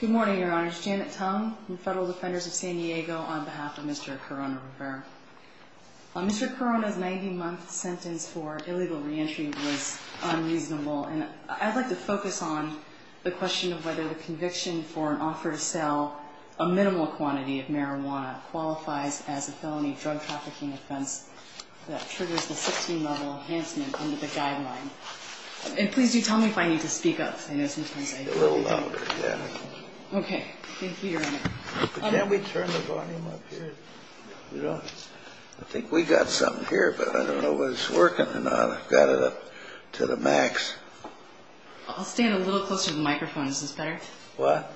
Good morning, Your Honors. Janet Tong, Federal Defenders of San Diego, on behalf of Mr. Corona-Rivera. Mr. Corona's 90-month sentence for illegal re-entry was unreasonable. And I'd like to focus on the question of whether the conviction for an offer to sell a minimal quantity of marijuana qualifies as a felony drug trafficking offense that triggers the 16-level enhancement under the guideline. And please do tell me if I need to speak up. A little louder, yeah. Okay. Thank you, Your Honor. Can we turn the volume up here? I think we've got something here, but I don't know if it's working or not. I've got it up to the max. I'll stand a little closer to the microphone. Is this better? What?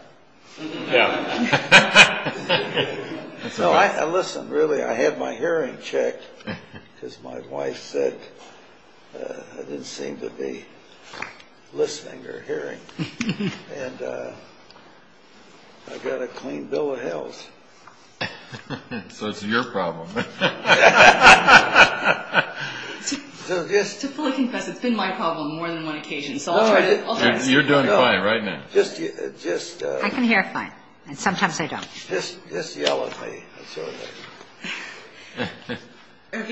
Yeah. So, listen, really, I had my hearing checked because my wife said I didn't seem to be listening or hearing. And I've got a clean bill of health. So it's your problem. To fully confess, it's been my problem more than one occasion. You're doing fine right now. I can hear fine. And sometimes I don't. Just yell at me.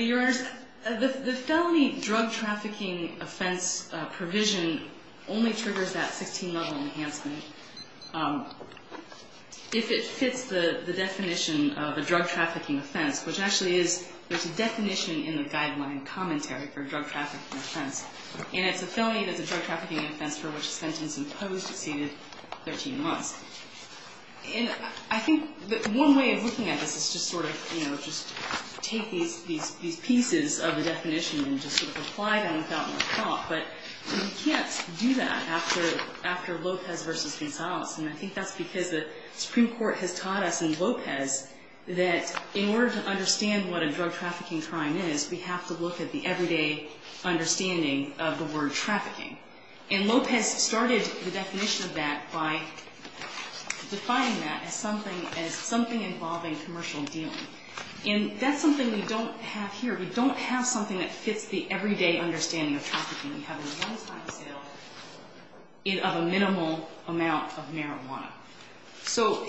Your Honor, the felony drug trafficking offense provision only triggers that 16-level enhancement if it fits the definition of a drug trafficking offense, which actually is there's a definition in the guideline commentary for drug trafficking offense. And it's a felony that's a drug trafficking offense for which a sentence imposed exceeded 13 months. And I think that one way of looking at this is just sort of, you know, just take these pieces of the definition and just sort of apply them without much thought. But you can't do that after Lopez v. Gonzalez. And I think that's because the Supreme Court has taught us in Lopez that in order to understand what a drug trafficking crime is, we have to look at the everyday understanding of the word trafficking. And Lopez started the definition of that by defining that as something involving commercial dealing. And that's something we don't have here. We don't have something that fits the everyday understanding of trafficking. We have a one-time sale of a minimal amount of marijuana. So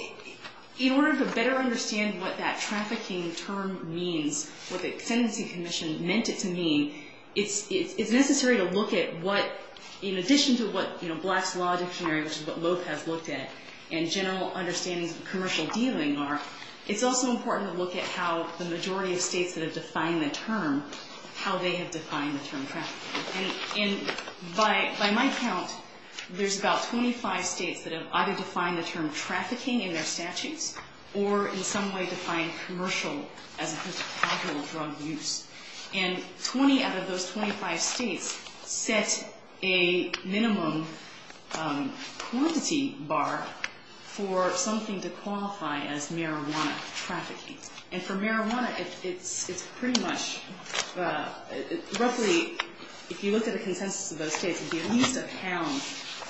in order to better understand what that trafficking term means, what the sentencing commission meant it to mean, it's necessary to look at what, in addition to what Black's Law Dictionary, which is what Lopez looked at, and general understandings of commercial dealing are, it's also important to look at how the majority of states that have defined the term, how they have defined the term trafficking. And by my count, there's about 25 states that have either defined the term trafficking in their statutes or in some way defined commercial as a potential drug use. And 20 out of those 25 states set a minimum quantity bar for something to qualify as marijuana trafficking. And for marijuana, it's pretty much roughly, if you look at the consensus of those states, it would be at least a pound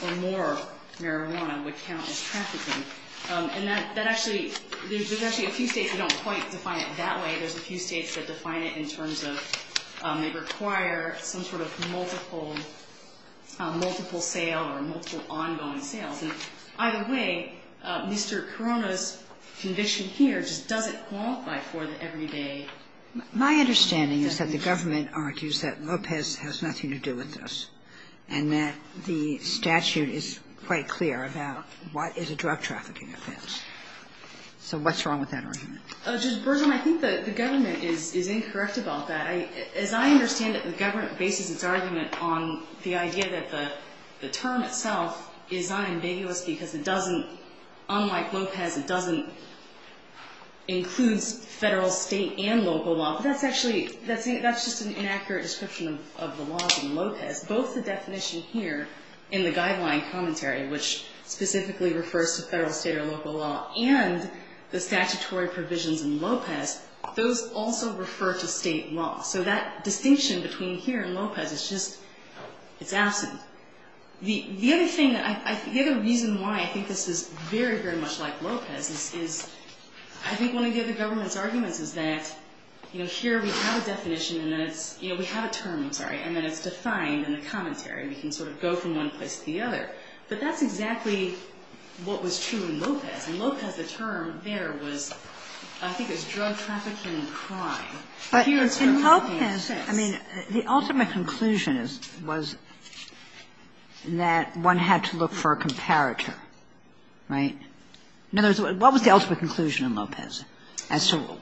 or more marijuana would count as trafficking. And that actually, there's actually a few states that don't quite define it that way. There's a few states that define it in terms of they require some sort of multiple sale or multiple ongoing sales. And either way, Mr. Corona's conviction here just doesn't qualify for the everyday. My understanding is that the government argues that Lopez has nothing to do with this and that the statute is quite clear about what is a drug trafficking offense. So what's wrong with that argument? Judge Bergeron, I think the government is incorrect about that. As I understand it, the government bases its argument on the idea that the term itself is unambiguous because it doesn't, unlike Lopez, it doesn't include federal, state, and local law. But that's actually, that's just an inaccurate description of the laws in Lopez. Both the definition here in the guideline commentary, which specifically refers to federal, state, or local law, and the statutory provisions in Lopez, those also refer to state law. So that distinction between here and Lopez is just, it's absent. The other thing that I, the other reason why I think this is very, very much like Lopez is I think one of the other government's arguments is that, you know, here we have a definition and then it's, you know, we have a term, I'm sorry, and then it's defined in the commentary. We can sort of go from one place to the other. But that's exactly what was true in Lopez. In Lopez, the term there was, I think it was drug trafficking crime. But in Lopez, I mean, the ultimate conclusion is, was that one had to look for a comparator. Right? In other words, what was the ultimate conclusion in Lopez as to what?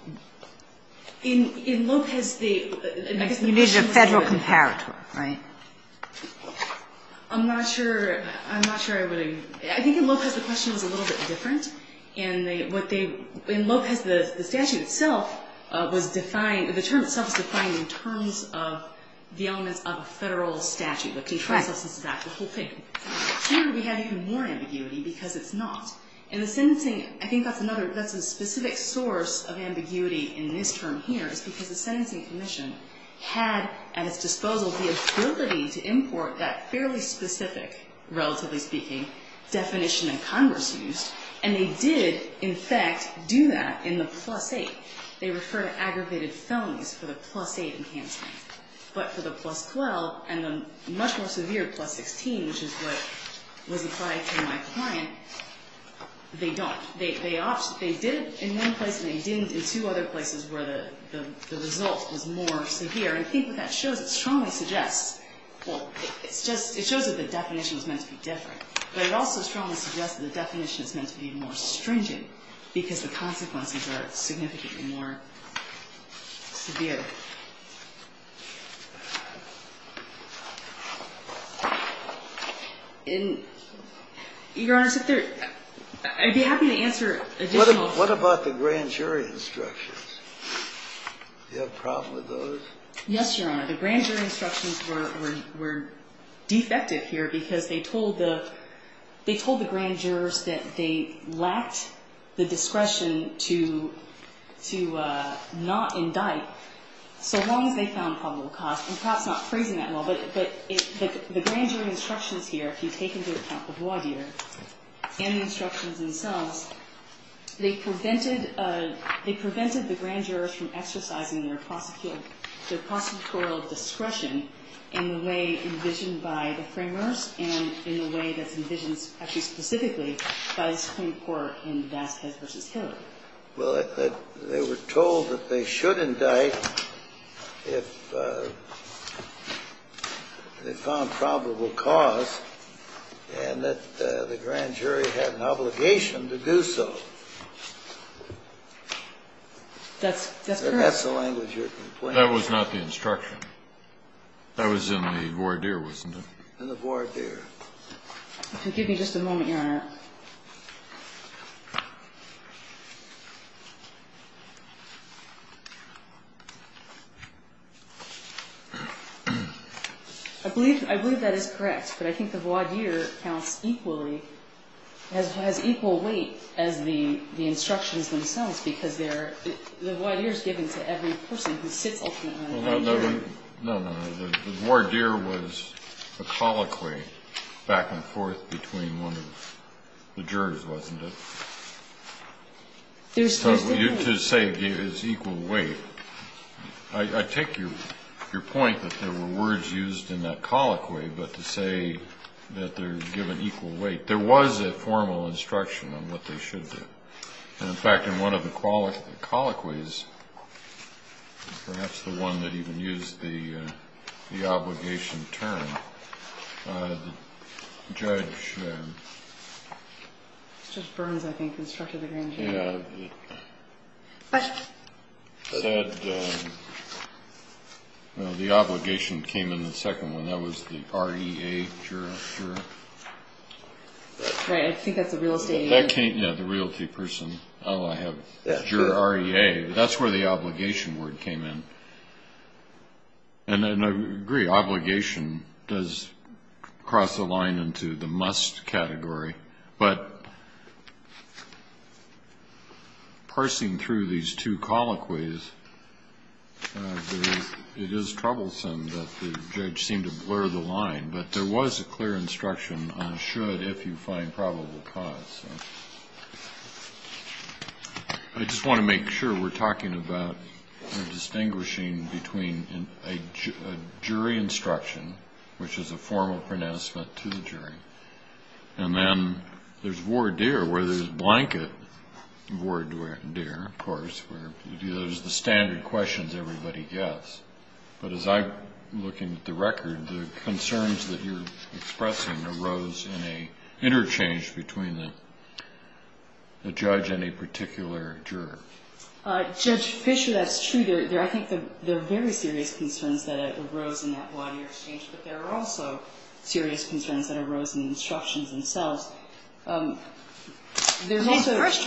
You needed a federal comparator, right? I'm not sure, I'm not sure I would, I think in Lopez the question was a little bit different. And what they, in Lopez the statute itself was defined, the term itself was defined in terms of the elements of a federal statute. Correct. Which expresses that whole thing. Here we have even more ambiguity because it's not. And the sentencing, I think that's another, that's a specific source of ambiguity in this term here is because the Sentencing Commission had at its disposal the ability to import that fairly specific, relatively speaking, definition that Congress used. And they did, in fact, do that in the plus 8. They refer to aggravated felonies for the plus 8 in cancelling. But for the plus 12 and the much more severe plus 16, which is what was applied to my client, they don't. They opted, they did it in one place and they didn't in two other places where the result was more severe. And I think that shows, it strongly suggests, well, it's just, it shows that the definition was meant to be different. But it also strongly suggests that the definition is meant to be more stringent because the consequences are significantly more severe. And, Your Honor, I'd be happy to answer additional. What about the grand jury instructions? Do you have a problem with those? Yes, Your Honor. The grand jury instructions were defective here because they told the grand jurors that they lacked the discretion to not indict so long as they found probable cause. I'm perhaps not phrasing that well, but the grand jury instructions here, if you take into account the voir dire and the instructions themselves, they prevented the grand jurors from exercising their prosecutorial discretion in the way envisioned by the framers and in the way that's envisioned actually specifically by the Supreme Court in Vasquez v. Hillary. Well, they were told that they should indict if they found probable cause and that the grand jury had an obligation to do so. That's correct. That's the language you're complaining about. That was not the instruction. That was in the voir dire, wasn't it? In the voir dire. If you'll give me just a moment, Your Honor. I believe that is correct, but I think the voir dire counts equally, has equal weight as the instructions themselves, because they're the voir dire is given to every person who sits ultimately on the grand jury. No, no, no. The voir dire was a colloquy back and forth between one of the jurors, wasn't it? So to say it's equal weight, I take your point that there were words used in that colloquy, but to say that they're given equal weight. There was a formal instruction on what they should do. In fact, in one of the colloquies, perhaps the one that even used the obligation term, Judge Burns, I think, instructed the grand jury. Well, the obligation came in the second one. That was the R-E-A juror. Right. I think that's the real estate agent. Yeah, the realty person. Oh, I have juror R-E-A. That's where the obligation word came in. And I agree, obligation does cross the line into the must category, but parsing through these two colloquies, it is troublesome that the judge seemed to blur the line, but there was a clear instruction on should if you find probable cause. I just want to make sure we're talking about distinguishing between a jury instruction, and then there's voir dire, where there's blanket voir dire, of course, where there's the standard questions everybody gets. But as I'm looking at the record, the concerns that you're expressing arose in an interchange between the judge and a particular juror. Judge Fisher, that's true. I think there are very serious concerns that arose in that lawyer exchange, but there are also serious concerns that arose in the instructions themselves. First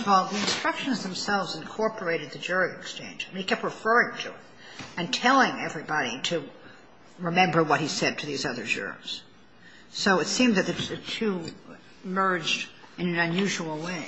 of all, the instructions themselves incorporated the jury exchange, and he kept referring to it and telling everybody to remember what he said to these other jurors. So it seemed that the two merged in an unusual way.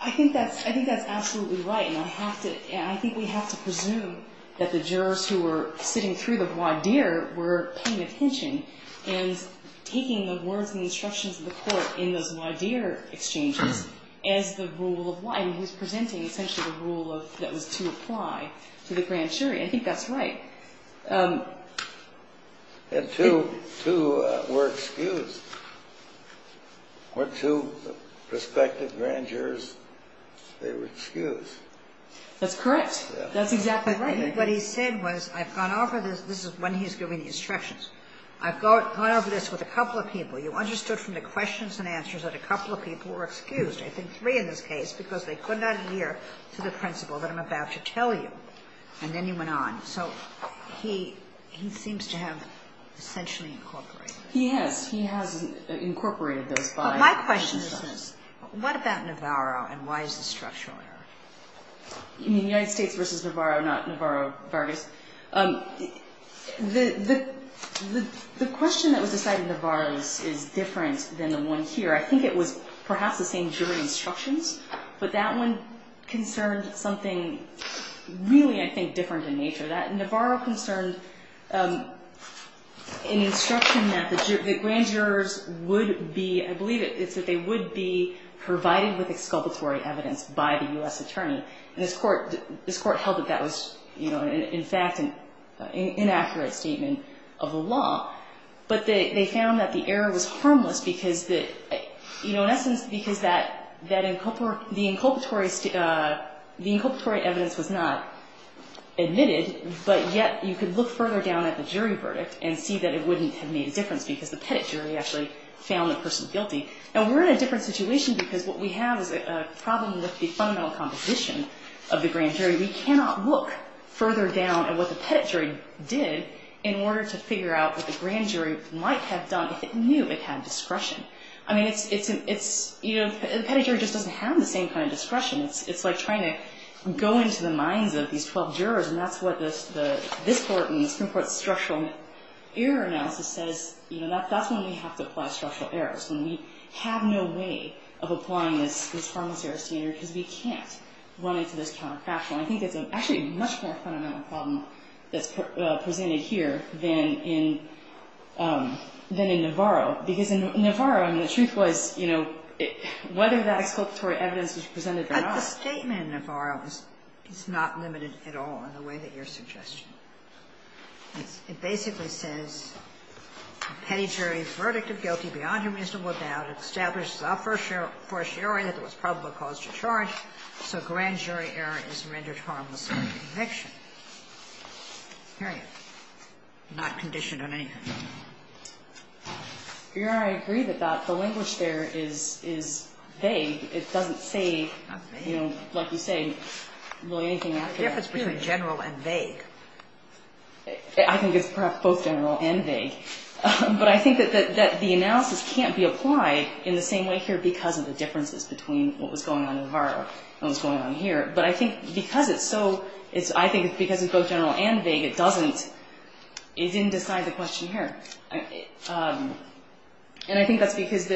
I think that's absolutely right, and I think we have to presume that the jurors who were sitting through the voir dire were paying attention and taking the words and instructions of the court in those voir dire exchanges as the rule of law, and he was presenting essentially the rule that was to apply to the grand jury. I think that's right. And two were excused. Were two prospective grand jurors, they were excused. That's correct. That's exactly right. What he said was, I've gone over this. This is when he's giving the instructions. I've gone over this with a couple of people. You understood from the questions and answers that a couple of people were excused, I think three in this case, because they could not adhere to the principle that I'm about to tell you, and then he went on. So he seems to have essentially incorporated it. He has. He has incorporated those voir dire. My question is, what about Navarro, and why is this structural error? United States versus Navarro, not Navarro-Vargas. The question that was decided in Navarro's is different than the one here. I think it was perhaps the same jury instructions, but that one concerned something really, I think, different in nature. Navarro concerned an instruction that the grand jurors would be, I believe it's that they would be provided with exculpatory evidence by the U.S. attorney. And this Court held that that was, in fact, an inaccurate statement of the law. But they found that the error was harmless because, in essence, because the inculpatory evidence was not admitted, but yet you could look further down at the jury verdict and see that it wouldn't have made a difference because the pettit jury actually found the person guilty. Now, we're in a different situation because what we have is a problem with the fundamental composition of the grand jury. We cannot look further down at what the pettit jury did in order to figure out what the grand jury might have done if it knew it had discretion. I mean, it's, you know, the pettit jury just doesn't have the same kind of discretion. It's like trying to go into the minds of these 12 jurors, and that's what this Court and this Supreme Court's structural error analysis says, you know, that's when we have to apply structural errors, when we have no way of applying this pharmaceutical standard because we can't run into this counterfactual. I think it's actually a much more fundamental problem that's presented here than in Navarro, because in Navarro, I mean, the truth was, you know, whether that exculpatory evidence was presented or not. But the statement in Navarro is not limited at all in the way that you're suggesting. It basically says, Pettit jury's verdict of guilty beyond a reasonable doubt establishes a fortiori that there was probable cause to charge, so grand jury error is rendered harmless under conviction. Period. Not conditioned on anything. Your Honor, I agree that the language there is vague. It doesn't say, you know, like you say, really anything out there. The difference between general and vague. I think it's perhaps both general and vague. But I think that the analysis can't be applied in the same way here because of the differences between what was going on in Navarro and what was going on here. But I think because it's so, I think because it's both general and vague, it doesn't, it didn't decide the question here. And I think that's because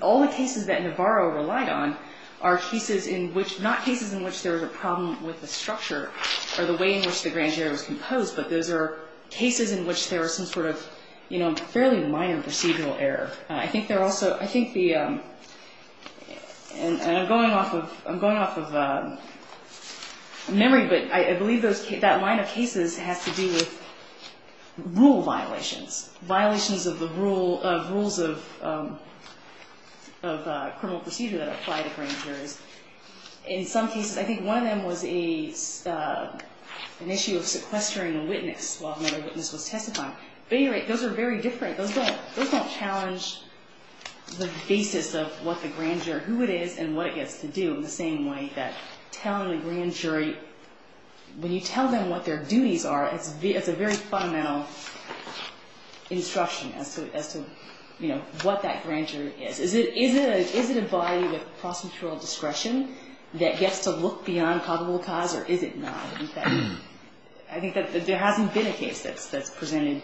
all the cases that Navarro relied on are cases in which, not cases in which there was a problem with the structure or the way in which the grand jury was composed, but those are cases in which there was some sort of, you know, fairly minor procedural error. I think there also, I think the, and I'm going off of, memory, but I believe those, that line of cases has to do with rule violations. Violations of the rules of criminal procedure that apply to grand juries. In some cases, I think one of them was a, an issue of sequestering a witness while another witness was testifying. Those are very different. Those don't challenge the basis of what the grand jury, who it is and what it gets to do in the same way that telling the grand jury, when you tell them what their duties are, it's a very fundamental instruction as to, you know, what that grand jury is. Is it a body with procedural discretion that gets to look beyond probable cause or is it not? I think that there hasn't been a case that's presented,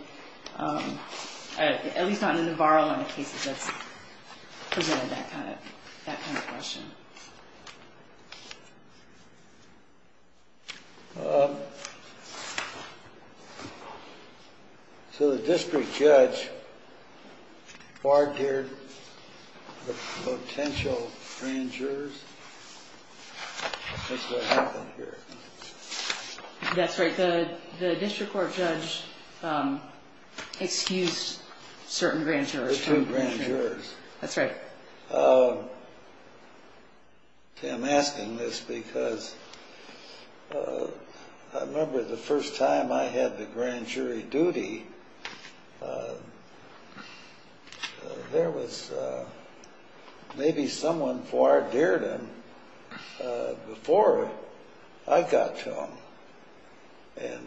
at least not in the VAR line of cases that's presented that kind of, that kind of question. So the district judge barred here the potential grand jurors? That's right. The district court judge excused certain grand jurors. Excused grand jurors. That's right. I'm asking this because I remember the first time I had the grand jury duty, there was maybe someone for our dearden before I got to them and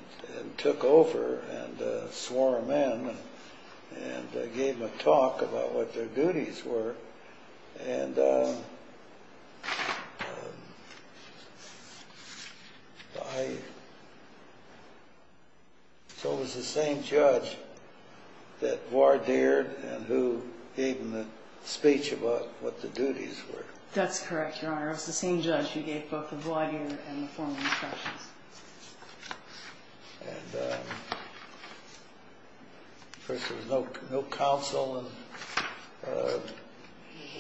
took over and swore them in and gave them a talk about what their duties were. And so it was the same judge that voir dired and who gave them the speech about what the duties were. That's correct, Your Honor. It was the same judge who gave both the voir dire and the formal instructions. And there was no counsel?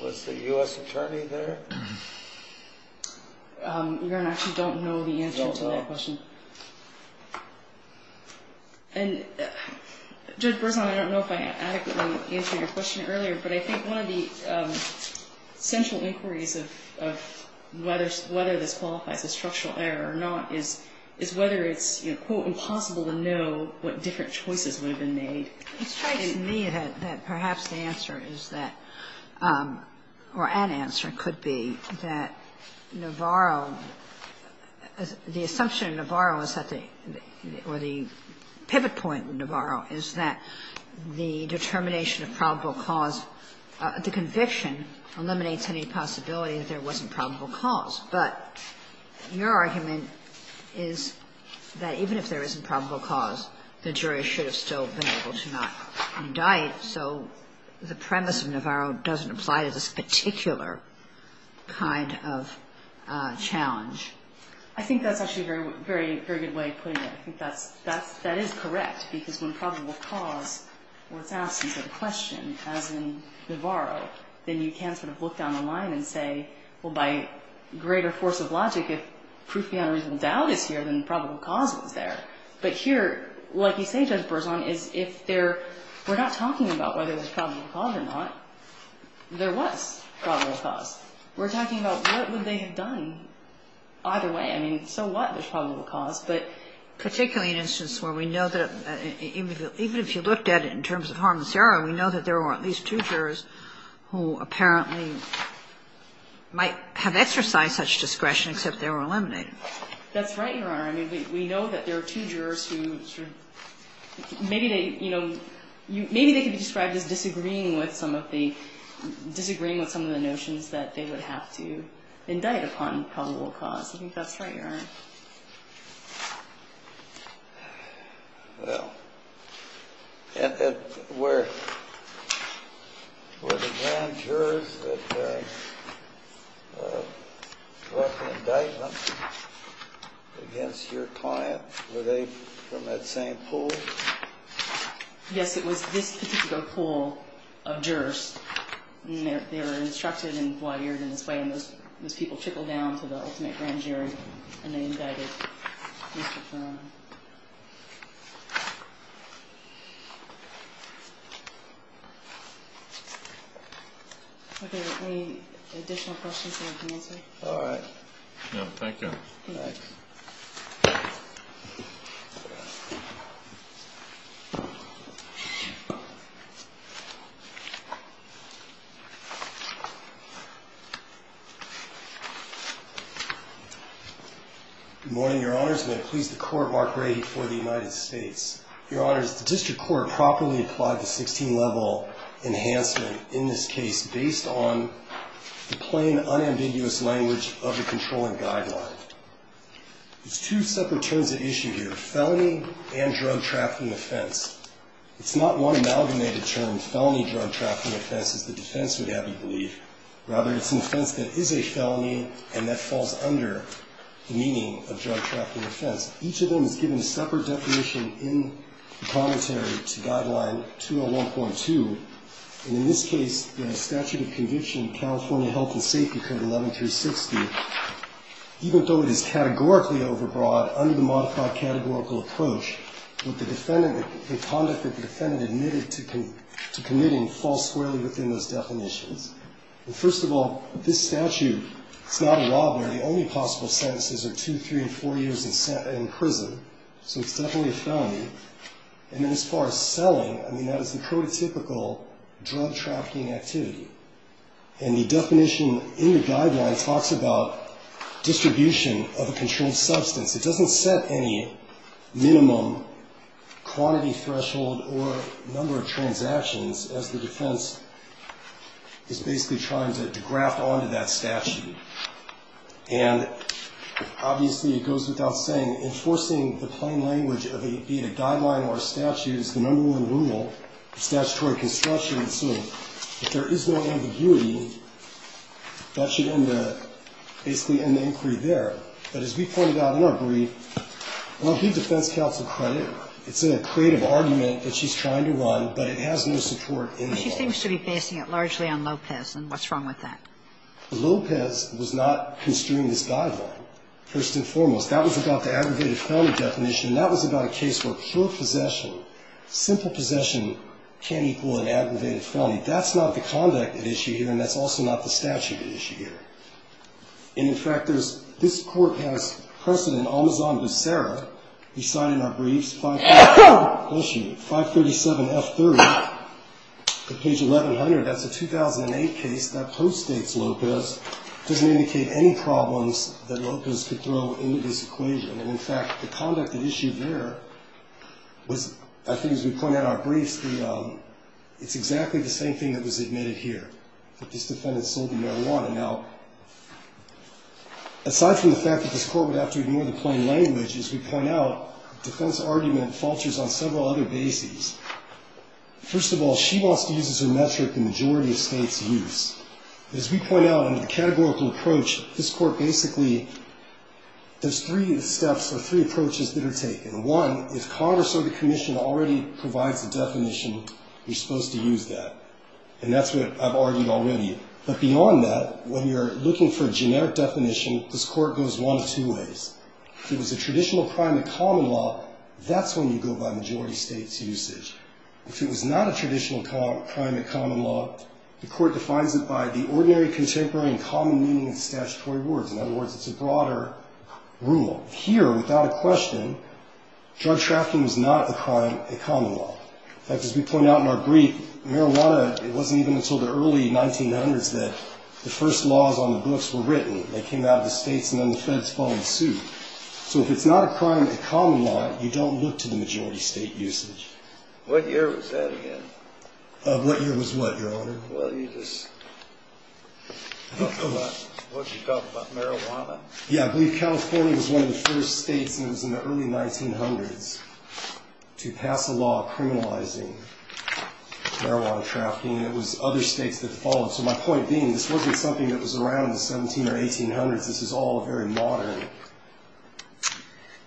Was the U.S. attorney there? Your Honor, I actually don't know the answer to that question. You don't know? And Judge Berzon, I don't know if I adequately answered your question earlier, but I think one of the central inquiries of whether this qualifies as structural error or not is whether it's, quote, impossible to know what different choices would have been made. It strikes me that perhaps the answer is that or an answer could be that Navarro, the assumption of Navarro or the pivot point of Navarro is that the determination of probable cause, the conviction eliminates any possibility that there wasn't probable cause. But your argument is that even if there isn't probable cause, the jury should have still been able to not indict. So the premise of Navarro doesn't apply to this particular kind of challenge. I think that's actually a very good way of putting it. I think that is correct because when probable cause was asked as a question, as in Navarro, then you can sort of look down the line and say, well, by greater force of logic, if proof beyond reasonable doubt is here, then probable cause was there. But here, like you say, Judge Berzon, is if we're not talking about whether there's probable cause or not, there was probable cause. We're talking about what would they have done either way. I mean, so what? There's probable cause. But particularly an instance where we know that even if you looked at it in terms of harm to the jurors who apparently might have exercised such discretion, except they were eliminated. That's right, Your Honor. I mean, we know that there are two jurors who sort of maybe they, you know, maybe they could be described as disagreeing with some of the notions that they would have to indict upon probable cause. I think that's right, Your Honor. Well, were the grand jurors that brought the indictment against your client, were they from that same pool? Yes, it was this particular pool of jurors. They were instructed and wired in this way, and those people trickled down to the ultimate grand jury, and they indicted Mr. Furman. Are there any additional questions you want to answer? No, thank you. All right. Good morning, Your Honors. May it please the Court, Mark Grady for the United States. Your Honors, the district court properly applied the 16-level enhancement in this case based on the plain, unambiguous language of the controlling guideline. There's two separate terms at issue here, felony and drug trafficking offense. It's not one amalgamated term, felony drug trafficking offense, as the defense would happily believe. Rather, it's an offense that is a felony, and that falls under the meaning of drug trafficking offense. Each of them is given a separate definition in the commentary to Guideline 201.2, and in this case, the statute of conviction, California Health and Safety Code 11-360, even though it is categorically overbroad, under the modified categorical approach, the conduct that the defendant admitted to committing falls squarely within those definitions. First of all, this statute is not a robbery. The only possible sentences are two, three, and four years in prison. So it's definitely a felony. And then as far as selling, I mean, that is the prototypical drug trafficking activity. And the definition in the guideline talks about distribution of a controlled substance. It doesn't set any minimum quantity threshold or number of transactions as the defense is basically trying to graft onto that statute. And obviously, it goes without saying, enforcing the plain language of it being a guideline or a statute is the number one rule of statutory construction. And so if there is no ambiguity, that should end the ‑‑ basically end the inquiry there. But as we pointed out in our brief, I want to give defense counsel credit. It's a creative argument that she's trying to run, but it has no support in the law. But she seems to be basing it largely on Lopez, and what's wrong with that? Lopez was not construing this guideline, first and foremost. That was about the aggravated felony definition, and that was about a case where pure possession, simple possession, can't equal an aggravated felony. That's not the conduct at issue here, and that's also not the statute at issue here. And, in fact, there's ‑‑ this court has precedent, Almazon v. Serra. We cite in our briefs 537‑F30 at page 1100. That's a 2008 case. That postdates Lopez, doesn't indicate any problems that Lopez could throw into this equation. And, in fact, the conduct at issue there was, I think as we point out in our briefs, it's exactly the same thing that was admitted here, that this defendant sold you marijuana. Now, aside from the fact that this court would have to ignore the plain language, as we point out, defense argument falters on several other bases. First of all, she wants to use as her metric the majority of states' use. As we point out, under the categorical approach, this court basically does three steps or three approaches that are taken. One, if Congress or the commission already provides a definition, you're supposed to use that. And that's what I've argued already. But beyond that, when you're looking for a generic definition, this court goes one of two ways. If it was a traditional crime in common law, that's when you go by majority states' usage. If it was not a traditional crime in common law, the court defines it by the ordinary, contemporary, and common meaning of statutory words. In other words, it's a broader rule. Here, without a question, drug trafficking is not a crime in common law. In fact, as we point out in our brief, marijuana, it wasn't even until the early 1900s that the first laws on the books were written. They came out of the states, and then the feds fall in suit. So if it's not a crime in common law, you don't look to the majority state usage. What year was that again? What year was what, Your Honor? Well, you just talked about marijuana. Yeah, I believe California was one of the first states, and it was in the early 1900s, to pass a law criminalizing marijuana trafficking. It was other states that followed. So my point being, this wasn't something that was around in the 1700s or 1800s. This is all very modern. Do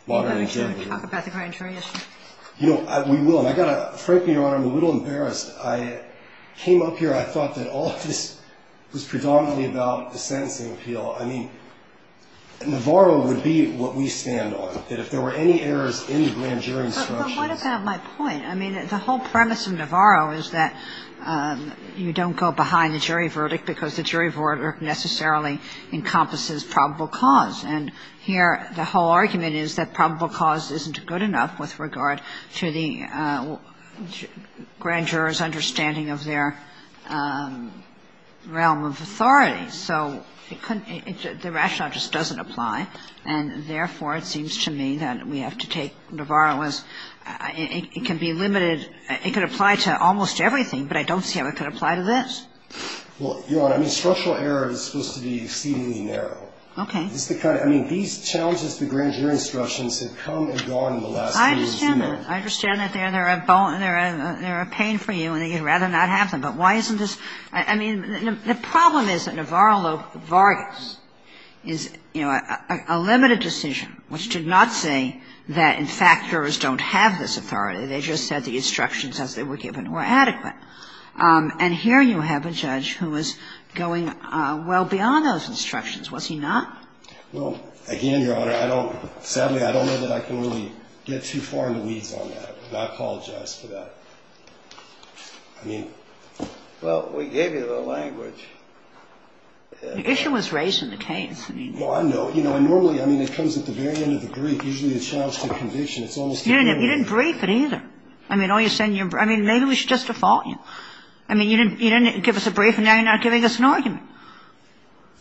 you want to talk about the grand jury issue? You know, we will. And I've got to, frankly, Your Honor, I'm a little embarrassed. I came up here, I thought that all of this was predominantly about the sentencing appeal. I mean, Navarro would be what we stand on, that if there were any errors in the grand jury instructions. But what about my point? I mean, the whole premise of Navarro is that you don't go behind the jury verdict because the jury verdict necessarily encompasses probable cause. And here the whole argument is that probable cause isn't good enough with regard to the grand juror's understanding of their realm of authority. So the rationale just doesn't apply. And therefore, it seems to me that we have to take Navarro as, it can be limited It could apply to almost everything, but I don't see how it could apply to this. Well, Your Honor, I mean, structural error is supposed to be exceedingly narrow. Okay. I mean, these challenges to grand jury instructions have come and gone in the last few years. I understand that. I understand that they're a pain for you and you'd rather not have them. But why isn't this? I mean, the problem is that Navarro Vargas is, you know, a limited decision, which did not say that, in fact, jurors don't have this authority. They just said the instructions as they were given were adequate. And here you have a judge who was going well beyond those instructions, was he not? Well, again, Your Honor, I don't – sadly, I don't know that I can really get too far in the weeds on that, and I apologize for that. I mean – Well, we gave you the language. The issue was raised in the case. Well, I know. You know, and normally, I mean, it comes at the very end of the brief. Usually it's challenged to conviction. It's almost – You didn't brief it either. I mean, all you're saying – I mean, maybe we should just default you. I mean, you didn't give us a brief and now you're not giving us an argument.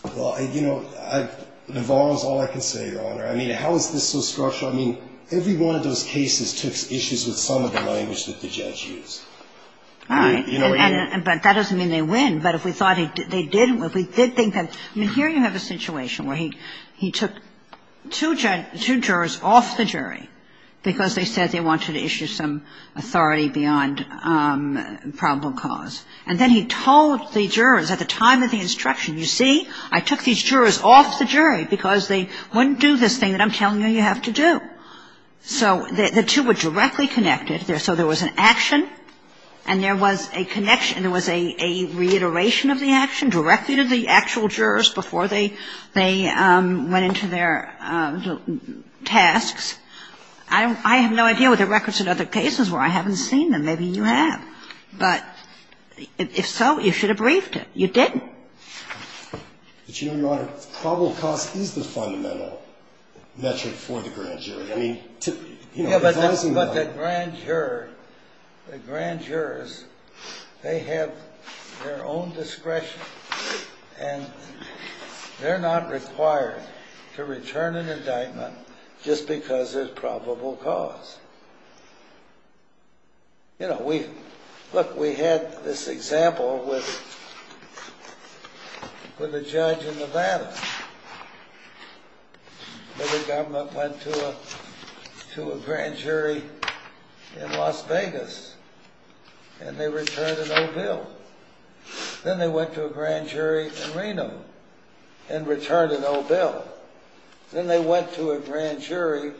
Well, you know, Navarro is all I can say, Your Honor. I mean, how is this so structural? I mean, every one of those cases took issues with some of the language that the judge used. All right. But that doesn't mean they win. But if we thought they didn't, if we did think that – I mean, here you have a situation where he took two jurors off the jury because they said they wanted to issue some authority beyond probable cause. And then he told the jurors at the time of the instruction, you see, I took these jurors off the jury because they wouldn't do this thing that I'm telling you you have to do. So the two were directly connected. So there was an action and there was a connection. There was a reiteration of the action directly to the actual jurors before they went into their tasks. I have no idea what the records in other cases were. I haven't seen them. Maybe you have. But if so, you should have briefed it. You didn't. But you know, Your Honor, probable cause is the fundamental metric for the grand jury. I mean, to – Yeah, but the grand jurors, they have their own discretion and they're not required to return an indictment just because there's probable cause. You know, we – look, we had this example with a judge in Nevada. The government went to a grand jury in Las Vegas and they returned an old bill. Then they went to a grand jury in Reno and returned an old bill. Then they went to a grand jury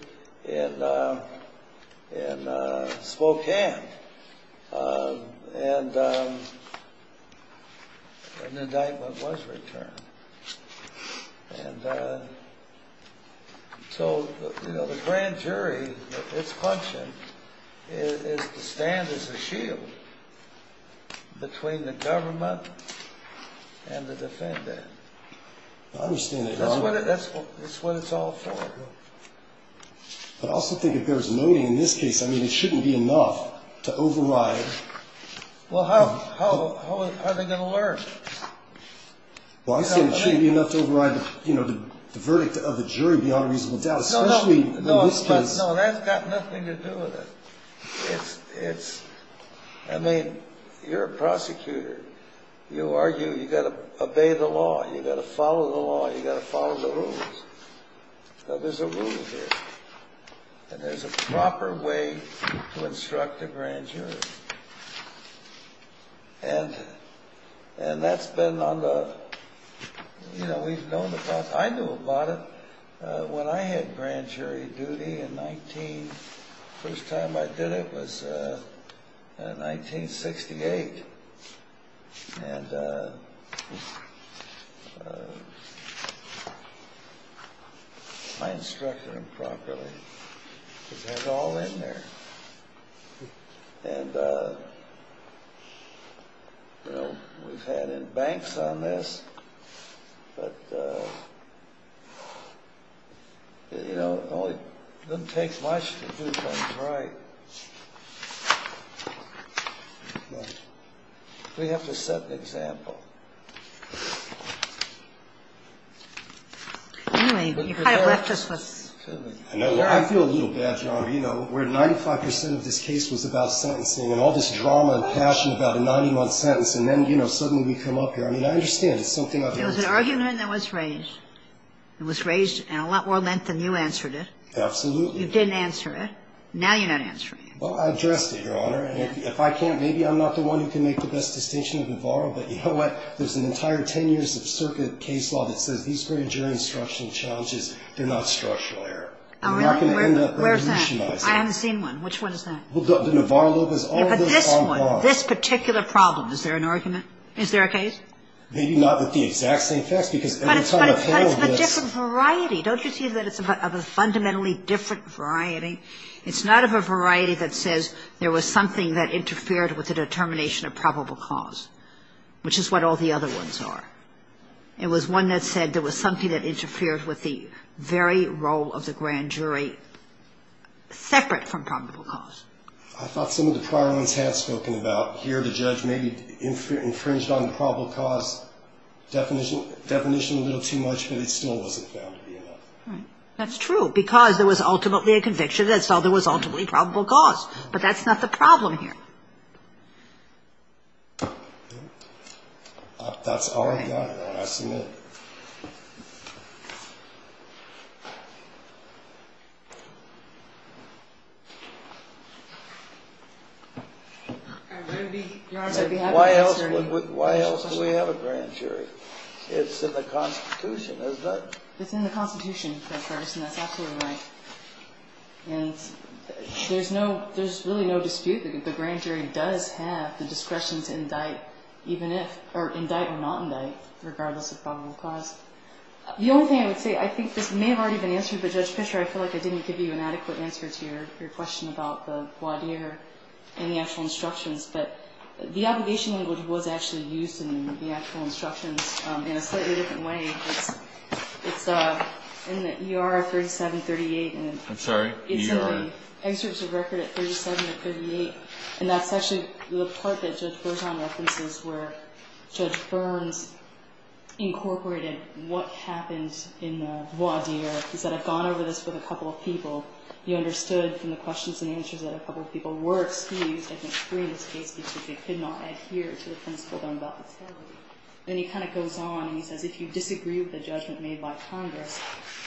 in Spokane and an indictment was returned. And so, you know, the grand jury, its function is to stand as a shield between the government and the defendant. I understand that, Your Honor. That's what it's all for. But I also think if there's noting in this case, I mean, it shouldn't be enough to override – Well, how are they going to learn? Well, I'm saying it shouldn't be enough to override, you know, the verdict of the jury beyond reasonable doubt, especially in this case. No, that's got nothing to do with it. It's – I mean, you're a prosecutor. You argue you've got to obey the law, you've got to follow the law, you've got to follow the rules. Now, there's a rule here. And there's a proper way to instruct a grand jury. And that's been on the – you know, we've known about – I knew about it. When I had grand jury duty in 19 – first time I did it was in 1968. And I instructed them properly. It was all in there. And, you know, we've had embanks on this, but, you know, it doesn't take much to do things right. We have to set an example. Anyway, you kind of left us with – I feel a little bad, Your Honor. You know, where 95 percent of this case was about sentencing and all this drama and passion about a 90-month sentence, and then, you know, suddenly we come up here. I mean, I understand. It's something I've been through. It was an argument that was raised. It was raised in a lot more length than you answered it. Absolutely. You didn't answer it. Now you're not answering it. Well, I addressed it, Your Honor. And if I can't, maybe I'm not the one who can make the best distinction of Navarro. But you know what? There's an entire 10 years of circuit case law that says these grand jury instructional challenges, they're not structural error. Where's that? I haven't seen one. Which one is that? Well, the Navarro – Yeah, but this one, this particular problem, is there an argument? Is there a case? Maybe not with the exact same facts, because every time I follow this – But it's of a different variety. Don't you see that it's of a fundamentally different variety? It's not of a variety that says there was something that interfered with the determination of probable cause, which is what all the other ones are. It was one that said there was something that interfered with the very role of the grand jury separate from probable cause. I thought some of the prior ones had spoken about here the judge maybe infringed on the probable cause definition a little too much, but it still wasn't found to be enough. Right. That's true, because there was ultimately a conviction that saw there was ultimately probable cause. But that's not the problem here. That's all I've got. I'll ask you a minute. Why else do we have a grand jury? It's in the Constitution, isn't it? It's in the Constitution, Judge Ferguson. That's absolutely right. And there's really no dispute that the grand jury does have the discretion to indict, or indict or not indict, regardless of probable cause. The only thing I would say, I think this may have already been answered, but Judge Fisher, I feel like I didn't give you an adequate answer to your question about the voir dire and the actual instructions. But the obligation language was actually used in the actual instructions in a slightly different way. It's in the ER 3738. I'm sorry? It's in the excerpts of record at 37 and 38, and that's actually the part that Judge Ferguson references where Judge Burns incorporated what happens in the voir dire. He said, I've gone over this with a couple of people. You understood from the questions and answers that a couple of people were excused, I think three in this case, because they could not adhere to the principle of non-violence. Then he kind of goes on and he says, if you disagree with the judgment made by Congress,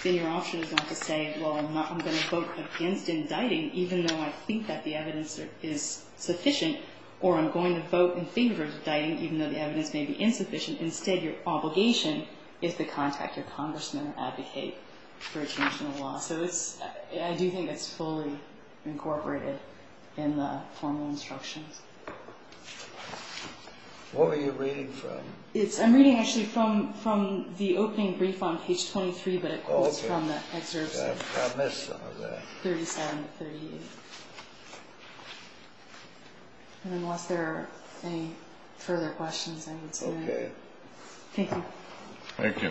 then your option is not to say, well, I'm going to vote against indicting, even though I think that the evidence is sufficient, or I'm going to vote in favor of indicting, even though the evidence may be insufficient. Instead, your obligation is to contact your congressman or advocate for a change in the law. So I do think it's fully incorporated in the formal instructions. What were you reading from? I'm reading actually from the opening brief on page 23, but it quotes from the excerpts. I've missed some of that. 3738. Unless there are any further questions, I would say that. Okay. Thank you. Thank you.